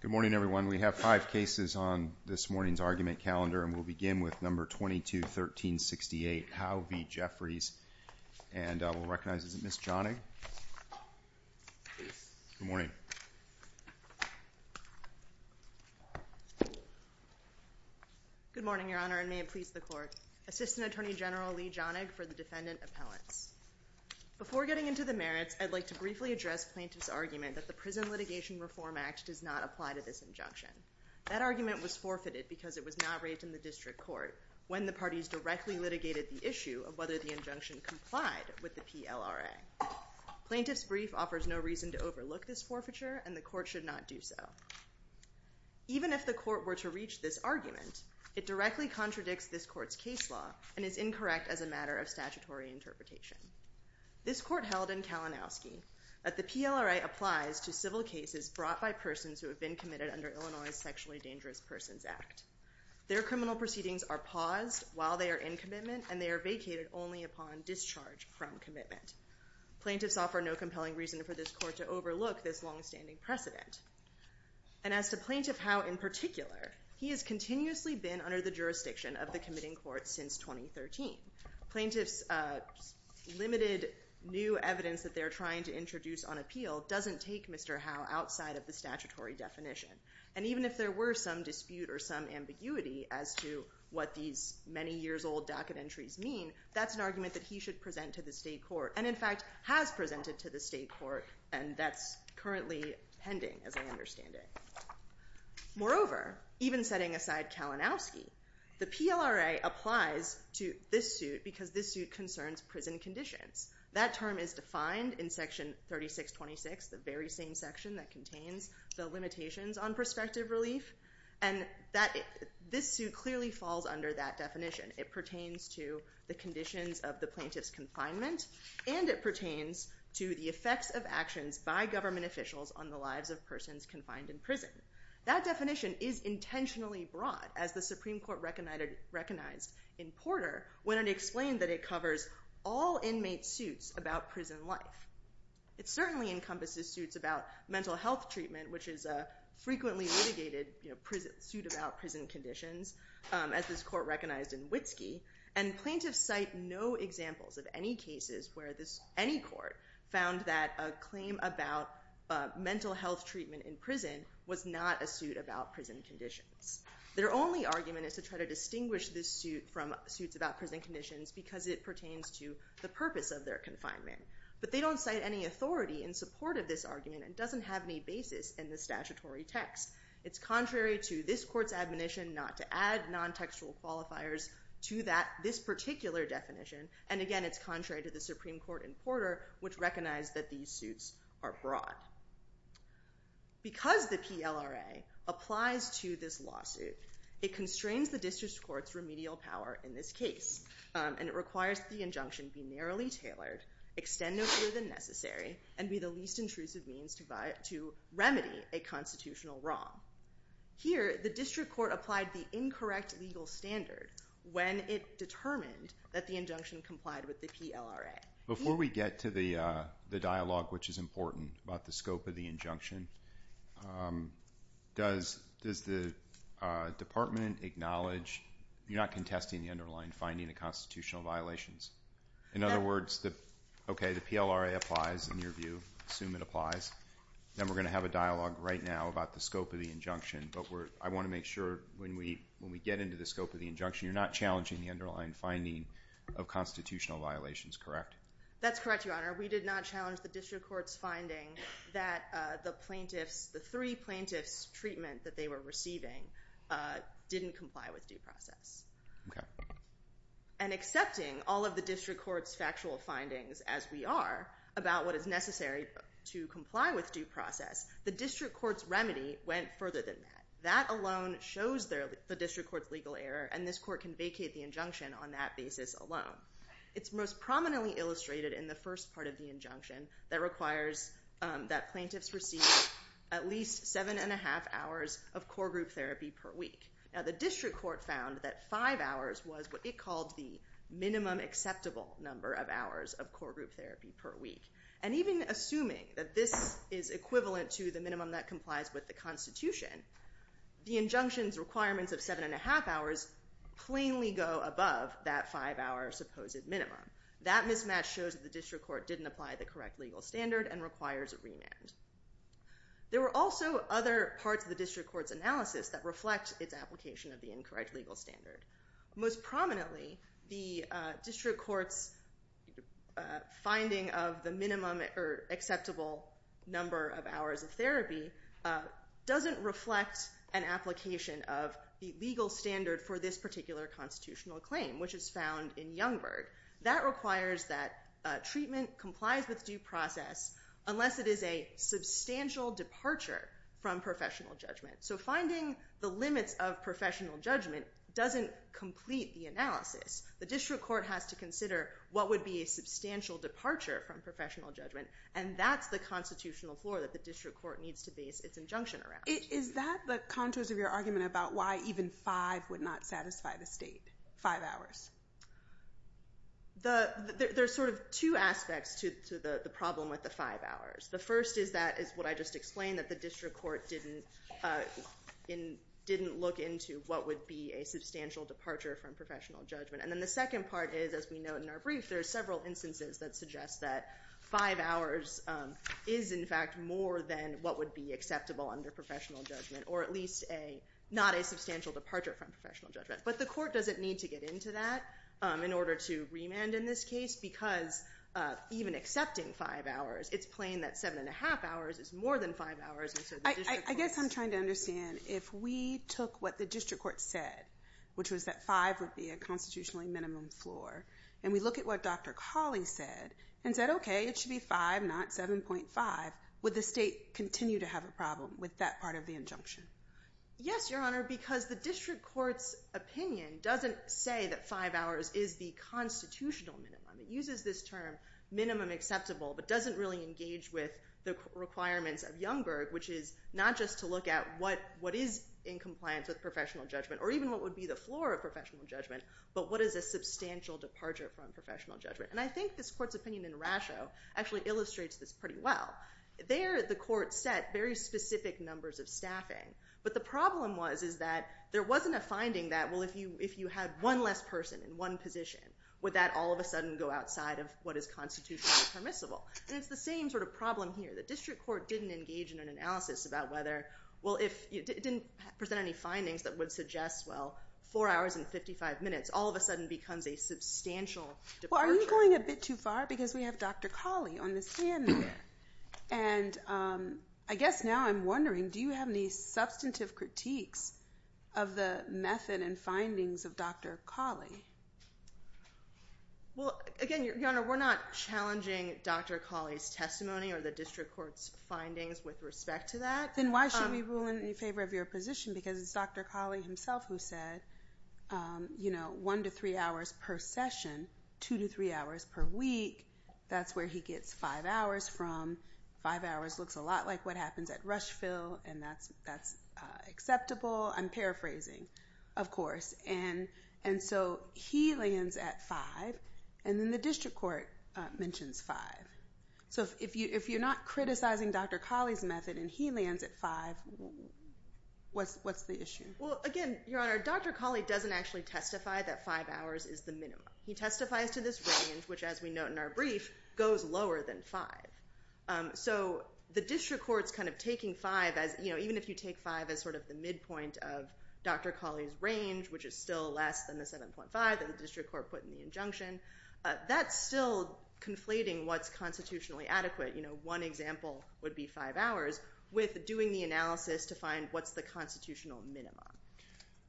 Good morning everyone. We have five cases on this morning's argument calendar and we'll begin with number 22-1368 Howe v. Jeffreys. And we'll recognize, is it Ms. Jonig? Good morning. Good morning, Your Honor, and may it please the Court. Assistant Attorney General Lee Jonig for the Defendant Appellants. Before getting into the merits, I'd like to briefly address Plaintiff's argument that the Prison Litigation Reform Act does not apply to this injunction. That argument was forfeited because it was not raised in the District Court when the parties directly litigated the issue of whether the injunction complied with the PLRA. Plaintiff's brief offers no reason to overlook this forfeiture and the Court should not do so. Even if the Court were to reach this argument, it directly contradicts this Court's case law and is incorrect as a matter of statutory interpretation. This Court held in Kalinowski that the PLRA applies to civil cases brought by persons who have been committed under Illinois' Sexually Dangerous Persons Act. Their criminal proceedings are paused while they are in commitment and they are vacated only upon discharge from commitment. Plaintiffs offer no compelling reason for this Court to overlook this longstanding precedent. And as to Plaintiff Howe in particular, he has continuously been under the jurisdiction of the Committing Court since 2013. Plaintiff's limited new evidence that they're trying to introduce on appeal doesn't take Mr. Howe outside of the statutory definition. And even if there were some dispute or some ambiguity as to what these many years old docket entries mean, that's an argument that he should present to the State Court and in fact has presented to the State Court and that's currently pending as I understand it. Moreover, even setting aside Kalinowski, the PLRA applies to this suit because this suit concerns prison conditions. That term is defined in Section 3626, the very same section that contains the limitations on prospective relief. And this suit clearly falls under that definition. It pertains to the conditions of the plaintiff's confinement and it pertains to the effects of actions by government officials on the lives of persons confined in prison. That definition is intentionally broad as the Supreme Court recognized in Porter when it explained that it covers all inmate suits about prison life. It certainly encompasses suits about mental health treatment which is a frequently litigated suit about prison conditions as this court recognized in Witski. And plaintiffs cite no examples of any cases where any court found that a claim about mental health treatment in prison was not a suit about prison conditions. Their only argument is to try to distinguish this suit from suits about prison conditions because it pertains to the purpose of their confinement. But they don't cite any authority in support of this argument and doesn't have any basis in the statutory text. It's contrary to this court's admonition not to add non-textual qualifiers to this particular definition and again it's the Supreme Court in Porter which recognized that these suits are broad. Because the PLRA applies to this lawsuit it constrains the district court's remedial power in this case and it requires the injunction be narrowly tailored, extend no further than necessary and be the least intrusive means to remedy a constitutional wrong. Here the district court applied the incorrect legal standard when it determined that the injunction complied with the PLRA. Before we get to the dialogue which is important about the scope of the injunction, does the department acknowledge, you're not contesting the underlying finding of constitutional violations? In other words, okay the PLRA applies in your view, assume it applies, then we're going to have a dialogue right now about the scope of the injunction but I want to make sure when we get into the scope of the injunction you're not challenging the underlying finding of constitutional violations, correct? That's correct, your honor. We did not challenge the district court's finding that the plaintiffs, the three plaintiffs treatment that they were receiving didn't comply with due process. Okay. And accepting all of the district court's factual findings as we are about what is necessary to comply with due process, the district court's remedy went further than that. That alone shows the district court's legal error and this court can vacate the injunction on that basis alone. It's most prominently illustrated in the first part of the injunction that requires that plaintiffs receive at least seven and a half hours of core group therapy per week. Now the district court found that five hours was what it called the minimum acceptable number of hours of core group therapy per week. And even assuming that this is equivalent to the seven and a half hours, plainly go above that five hour supposed minimum. That mismatch shows the district court didn't apply the correct legal standard and requires a remand. There were also other parts of the district court's analysis that reflect its application of the incorrect legal standard. Most prominently the district court's finding of the minimum or acceptable number of hours of therapy doesn't reflect an application of the legal standard for this particular constitutional claim, which is found in Youngberg. That requires that treatment complies with due process unless it is a substantial departure from professional judgment. So finding the limits of professional judgment doesn't complete the analysis. The district court has to consider what would be a substantial departure from professional judgment and that's the constitutional floor that the district court needs to base its injunction around. Is that the contours of your argument about why even five would not satisfy the state? Five hours? There's sort of two aspects to the problem with the five hours. The first is that, is what I just explained, that the district court didn't look into what would be a substantial departure from professional judgment. And then the second part is, as we note in our brief, there are several instances that suggest that five hours is in fact more than what would be acceptable under professional judgment, or at least not a substantial departure from professional judgment. But the court doesn't need to get into that in order to remand in this case because even accepting five hours, it's plain that seven and a half hours is more than five hours. I guess I'm trying to understand, if we took what the district court said, which was that five would be a constitutionally minimum floor, and we look at what Dr. Cawley said and said, okay, it should be five, not 7.5, would the state continue to have a problem with that part of the injunction? Yes, Your Honor, because the district court's opinion doesn't say that five hours is the constitutional minimum. It uses this term, minimum acceptable, but doesn't really engage with the requirements of Youngberg, which is not just to look at what is in compliance with professional judgment, or even what would be the floor of professional judgment, but what is a substantial departure from professional judgment. And I think this court's opinion in Rasho actually illustrates this pretty well. There, the court set very specific numbers of staffing, but the problem was is that there wasn't a finding that, well, if you had one less person in one position, would that all of a sudden go outside of what is constitutionally permissible? And it's the same sort of problem here. The district court didn't engage in an analysis about whether, well, it didn't present any findings that would suggest, well, four hours and 55 minutes all of a sudden becomes a substantial departure. Well, are you going a bit too far? Because we have Dr. Cawley on the stand there. And I guess now I'm wondering, do you have any substantive critiques of the method and findings of Dr. Cawley? Well, again, Your Honor, we're not challenging Dr. Cawley's testimony or the district court's findings with respect to that. Then why should we rule in favor of your position? Because it's Dr. Cawley himself who said, you know, one to three hours per session, two to three hours per week. That's where he gets five hours from. Five hours looks a lot like what happens at Rushfield, and that's acceptable. I'm paraphrasing, of course. And so he lands at five, and then the district court mentions five. So if you're not criticizing Dr. Cawley's method and he lands at five, what's the issue? Well, again, Your Honor, Dr. Cawley doesn't actually testify that five hours is the minimum. He testifies to this range, which, as we note in our brief, goes lower than five. So the district court's kind of taking five as, you know, even if you take five as sort of the midpoint of Dr. Cawley's range, which is still less than the 7.5 that the district court put in the injunction, that's still conflating what's constitutionally adequate. You know, one example would be five hours with doing the analysis to find what's the constitutional minimum.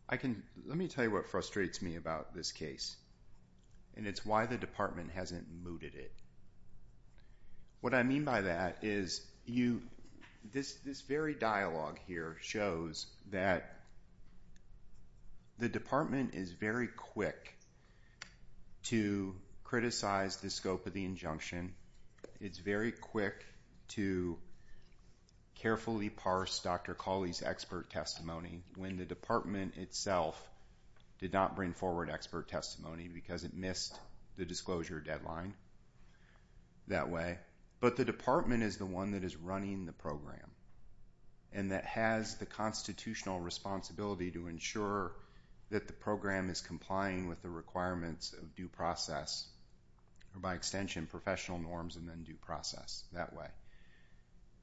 I can, let me tell you what frustrates me about this case, and it's why the department hasn't mooted it. What I mean by that is you, this very dialogue here shows that the department is very quick to criticize the scope of the injunction. It's very quick to carefully parse Dr. Cawley's expert testimony when the department itself did not bring forward expert testimony because it missed the disclosure deadline that way. But the department is the one that is running the program and that has the constitutional responsibility to ensure that the program is complying with the requirements of due process, or by extension, professional norms and then due process that way.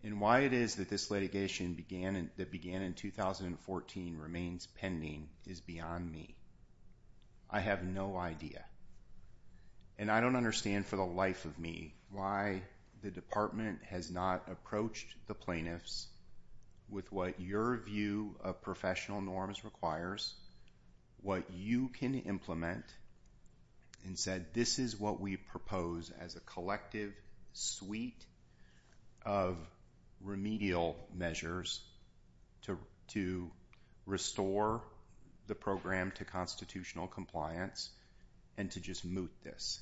And why it is that this litigation began in 2014 remains pending is beyond me. I have no idea. And I don't understand for the life of me why the department has not approached the plaintiffs with what your view of professional norms requires, what you can implement, and said this is what we propose as a collective suite of remedial measures to restore the program to constitutional compliance, and to just moot this.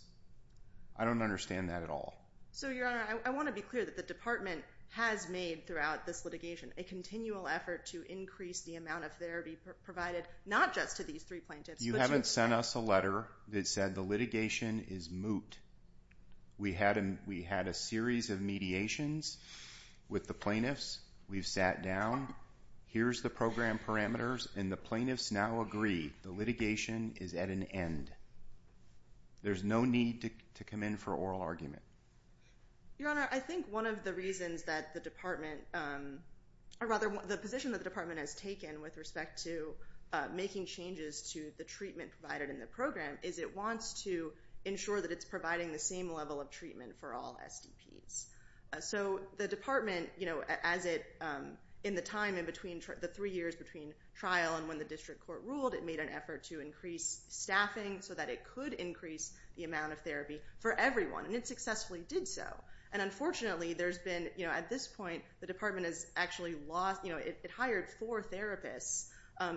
I don't understand that at all. So Your Honor, I want to be clear that the department has made throughout this litigation a continual effort to increase the amount of therapy provided, not just to these three plaintiffs. You haven't sent us a letter that said the litigation is moot. We had a series of mediations with the plaintiffs. We've sat down. Here's the program parameters. And the plaintiffs now agree the litigation is at an end. There's no need to come in for oral argument. Your Honor, I think one of the reasons that the department, or rather the position that the department has taken with respect to making changes to the treatment provided in the program is it wants to ensure that it's providing the same level of treatment for all SDPs. So the department, in the time in between the three years between trial and when the district court ruled, it made an effort to increase staffing so that it could increase the amount of therapy for everyone. And it successfully did so. And unfortunately, there's been, at this point, the department has actually lost, it hired four therapists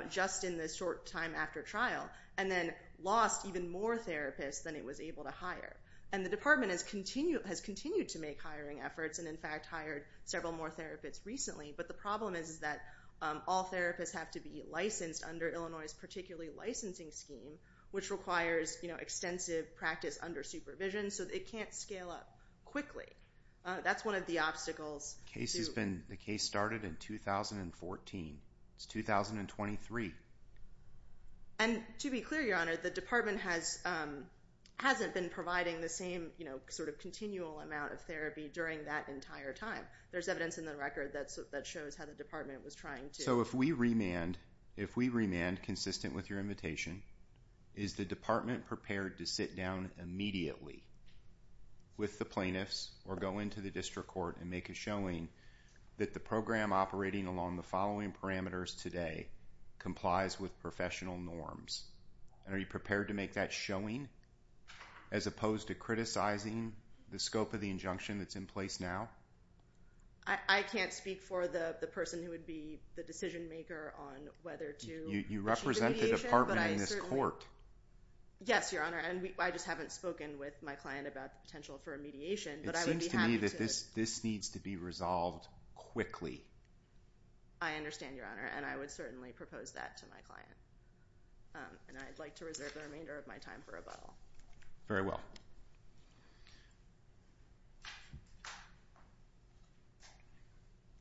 just in this short time after trial and then lost even more therapists than it was able to hire. And the department has continued to make hiring efforts and in fact hired several more therapists recently. But the problem is that all therapists have to be licensed under Illinois' particularly licensing scheme, which requires extensive practice under supervision, so it can't scale up quickly. That's one of the obstacles. The case started in 2014. It's 2023. And to be clear, Your Honor, the department hasn't been providing the same sort of continual amount of therapy during that entire time. There's evidence in the record that shows how the department was trying to... So if we remand, if we remand consistent with your invitation, is the department prepared to sit down immediately with the plaintiffs or go into the district court and make a showing that the program operating along the following parameters today complies with professional norms? And are you prepared to make that showing as opposed to criticizing the scope of the injunction that's in place now? I can't speak for the person who would be the decision-maker on whether to... You represent the department in this court. Yes, Your Honor, and I just haven't spoken with my client about the potential for a mediation, but I would be happy to... It seems to me that this needs to be resolved quickly. I understand, Your Honor, and I would certainly propose that to my client. And I'd like to reserve the remainder of my time for rebuttal. Very well.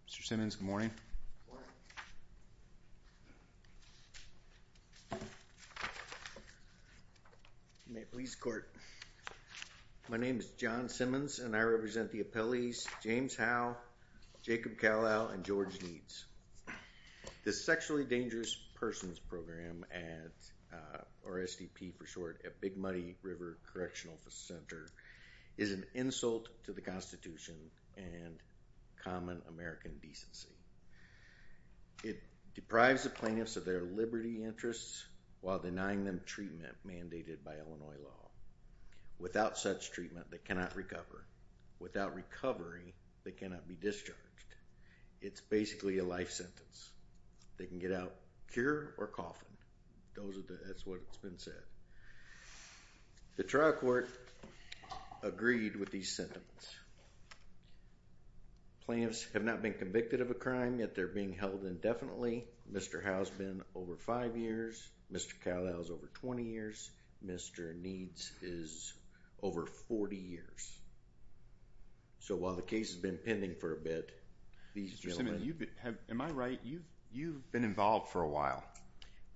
Mr. Simmons, good morning. Good morning. You may please court. My name is John Simmons, and I represent the appellees James Howe, Jacob Callow, and George Needs. The Sexually Dangerous Persons Program at, or SDP for short, at Big Muddy River Correctional Center is an insult to the Constitution and common American decency. It deprives the plaintiffs of their liberty interests while denying them treatment mandated by Illinois law. Without such treatment, they cannot recover. Without recovery, they cannot be discharged. It's basically a life sentence. They can get out cure or coffin. That's what it's been said. The trial court agreed with these sentiments. Plaintiffs have not been convicted of a crime, yet they're being held indefinitely. Mr. Howe's been over five years. Mr. Callow's over 20 years. Mr. Needs is over 40 years. So while the case has been pending for a bit, these gentlemen... Mr. Simmons, am I right? You've been involved for a while.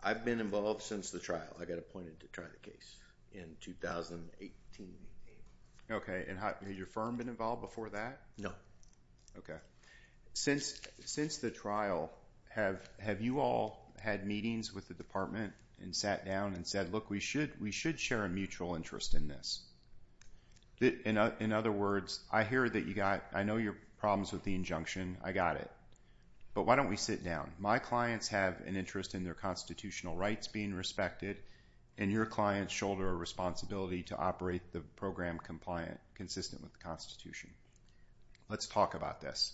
I've been involved since the trial. I got appointed to try the case in 2018. Okay. And had your firm been involved before that? No. Okay. Since the trial, have you all had meetings with the department and sat down and said, look, we should share a mutual interest in this? In other words, I hear that you got... I know your problems with the injunction. I got it. But why don't we sit down? My clients have an interest in their constitutional rights being respected, and your clients shoulder a responsibility to operate the program consistent with the Constitution. Let's talk about this.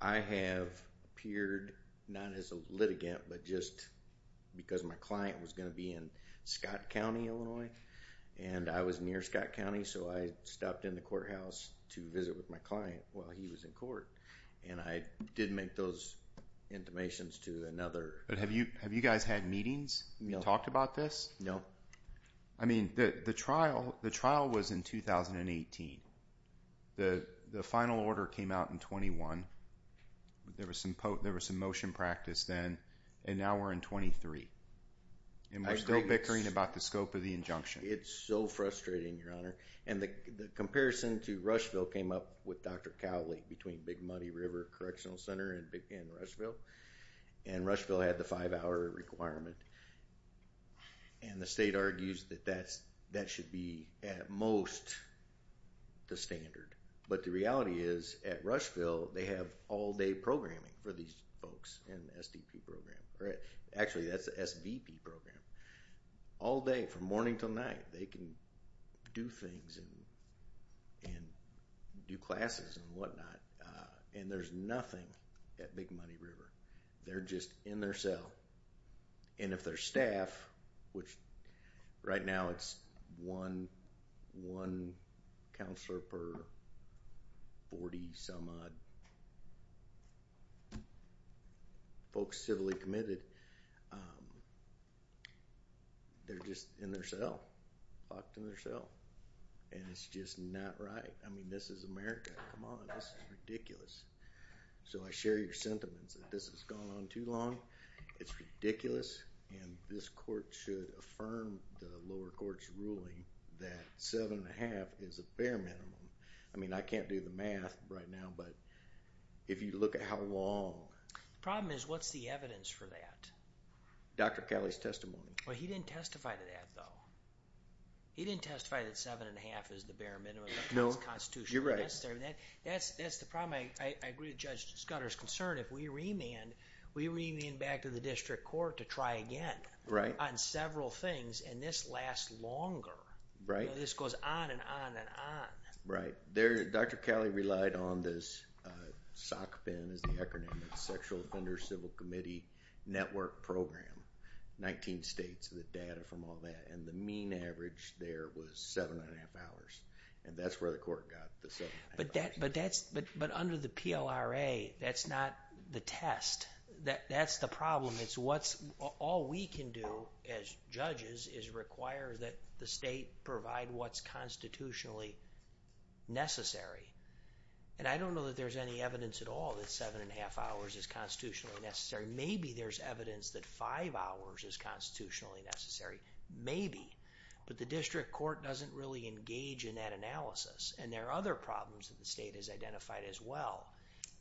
I have appeared not as a litigant, but just because my client was going to be in Scott County, Illinois. And I was near Scott County, so I stopped in the courthouse to visit with my client while he was in court. And I did make those intimations to another... But have you guys had meetings? No. Talked about this? No. I mean, the trial was in 2018. The final order came out in 21. There was some motion practice then, and now we're in 23. And we're still bickering about the scope of the injunction. It's so frustrating, Your Honor. And the comparison to Rushville came up with Dr. Cowley between Big Muddy River Correctional Center and Rushville. And Rushville had the five-hour requirement. And the state argues that that should be, at most, the standard. But the reality is, at Rushville, they have all-day programming for these folks in the SDP program. Actually, that's the SVP program. All day, from morning till night, they can do things and do classes and whatnot. And there's nothing at Big Muddy River. They're just in their cell. And if their staff, which right now it's one counselor per 40-some-odd folks civilly committed, they're just in their cell, locked in their cell. And it's just not right. I mean, this is America. Come on. This is ridiculous. So I share your sentiments that this has gone on too long. It's ridiculous. And this court should affirm the lower court's ruling that seven and a half is a fair minimum. I mean, I can't do the math right now, but if you look at how long... The problem is, what's the evidence for that? Dr. Calley's testimony. Well, he didn't testify to that, though. He didn't testify that seven and a half is the bare minimum under this Constitution. No, you're right. That's the problem. I agree with Judge Scudder's concern. If we remand, we remand back to the district court to try again on several things, and this lasts longer. Right. This goes on and on and on. Right. Dr. Calley relied on this SOC PIN, is the acronym, the Sexual Offender Civil Committee Network Program. Nineteen states, the data from all that. And the mean average there was seven and a half hours. And that's where the court got the seven and a half hours. But under the PLRA, that's not the test. That's the problem. It's what's... All we can do as judges is require that the state provide what's constitutionally necessary. And I don't know that there's any evidence at all that seven and a half hours is constitutionally necessary. Maybe there's evidence that five hours is constitutionally necessary. Maybe. But the district court doesn't really engage in that analysis. And there are other problems that the state has identified as well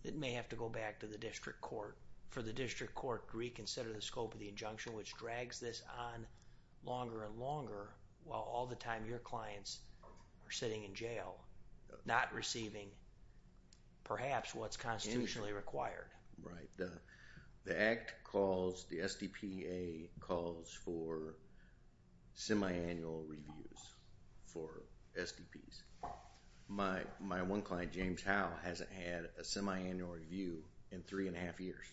that may have to go back to the district court. So, for the district court to reconsider the scope of the injunction, which drags this on longer and longer, while all the time your clients are sitting in jail, not receiving perhaps what's constitutionally required. Right. The Act calls... the SDPA calls for semiannual reviews for SDPs. My one client, James Howell, hasn't had a semiannual review in three and a half years.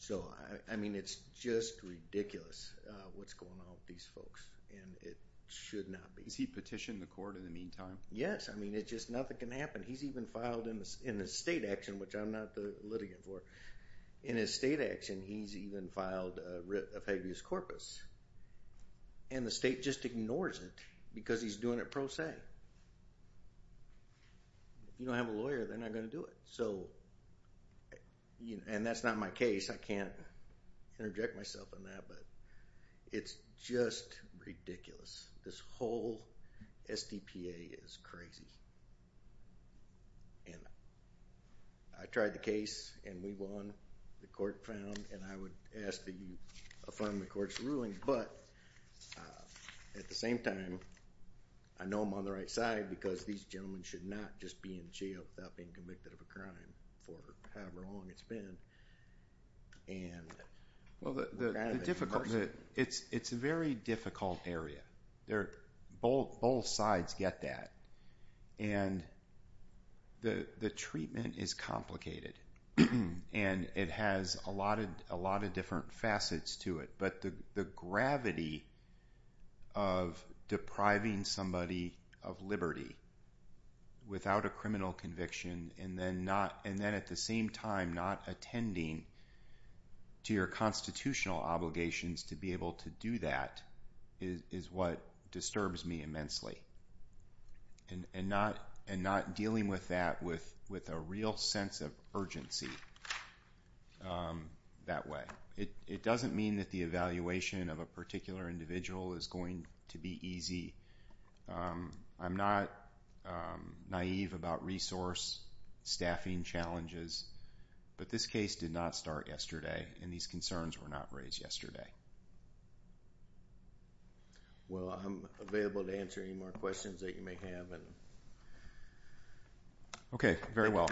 So, I mean, it's just ridiculous what's going on with these folks. And it should not be. Has he petitioned the court in the meantime? Yes. I mean, it just... nothing can happen. He's even filed in the state action, which I'm not the litigant for. In his state action, he's even filed a writ of habeas corpus. And the state just ignores it because he's doing it pro se. If you don't have a lawyer, they're not going to do it. So... and that's not my case. I can't interject myself in that. But it's just ridiculous. This whole SDPA is crazy. And I tried the case and we won. The court found... and I would ask that you affirm the court's ruling. But, at the same time, I know I'm on the right side because these gentlemen should not just be in jail without being convicted of a crime for however long it's been. And... Well, the difficult... it's a very difficult area. Both sides get that. And the treatment is complicated. And it has a lot of different facets to it. But the gravity of depriving somebody of liberty without a criminal conviction and then at the same time not attending to your constitutional obligations to be able to do that is what disturbs me immensely. And not dealing with that with a real sense of urgency that way. It doesn't mean that the evaluation of a particular individual is going to be easy. I'm not naive about resource staffing challenges. But this case did not start yesterday and these concerns were not Okay. Very well.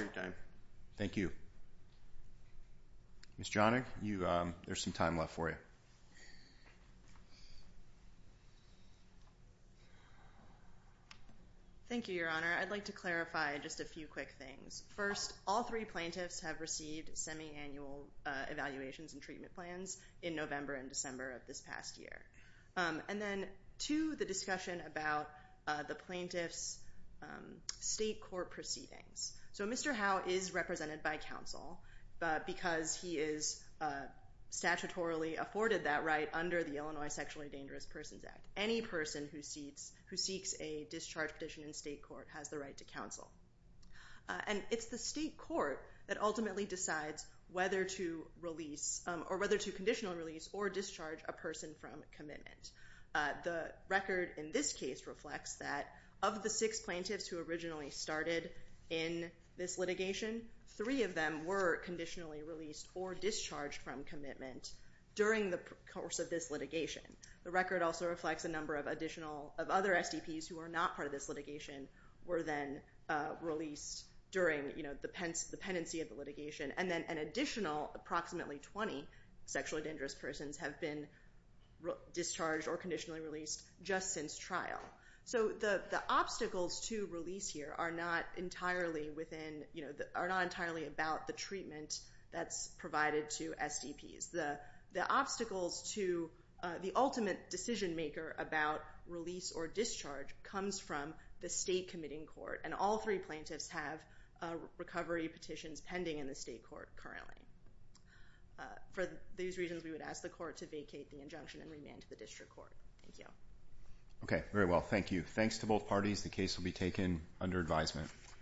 Thank you. Ms. Jonig, there's some time left for you. Thank you, Your Honor. I'd like to clarify just a few quick things. First, all three plaintiffs have received semi-annual evaluations and treatment plans in November and December of this past year. And then two, the discussion about the plaintiff's state court proceedings. So Mr. Howe is represented by counsel because he is statutorily afforded that right under the Illinois Sexually Dangerous Persons Act. Any person who seeks a discharge petition in state court has the right to counsel. And it's the state court that ultimately decides whether to release or whether to conditionally release or discharge a person from commitment. The record in this case reflects that of the six plaintiffs who originally started in this litigation, three of them were conditionally released or discharged from commitment during the course of this litigation. The record also reflects a number of other SDPs who are not part of this litigation were then released during the pendency of the litigation and an additional approximately 20 sexually dangerous persons have been discharged or conditionally released just since trial. So the obstacles to release here are not entirely about the treatment that's provided to SDPs. The obstacles to the ultimate decision maker about release or discharge comes from the state committing court. And all three plaintiffs have recovery petitions pending in the state court currently. For these reasons, we would ask the court to vacate the injunction and remand to the district court. Thank you. Okay, very well. Thank you. Thanks to both parties. The case will be taken under advisement.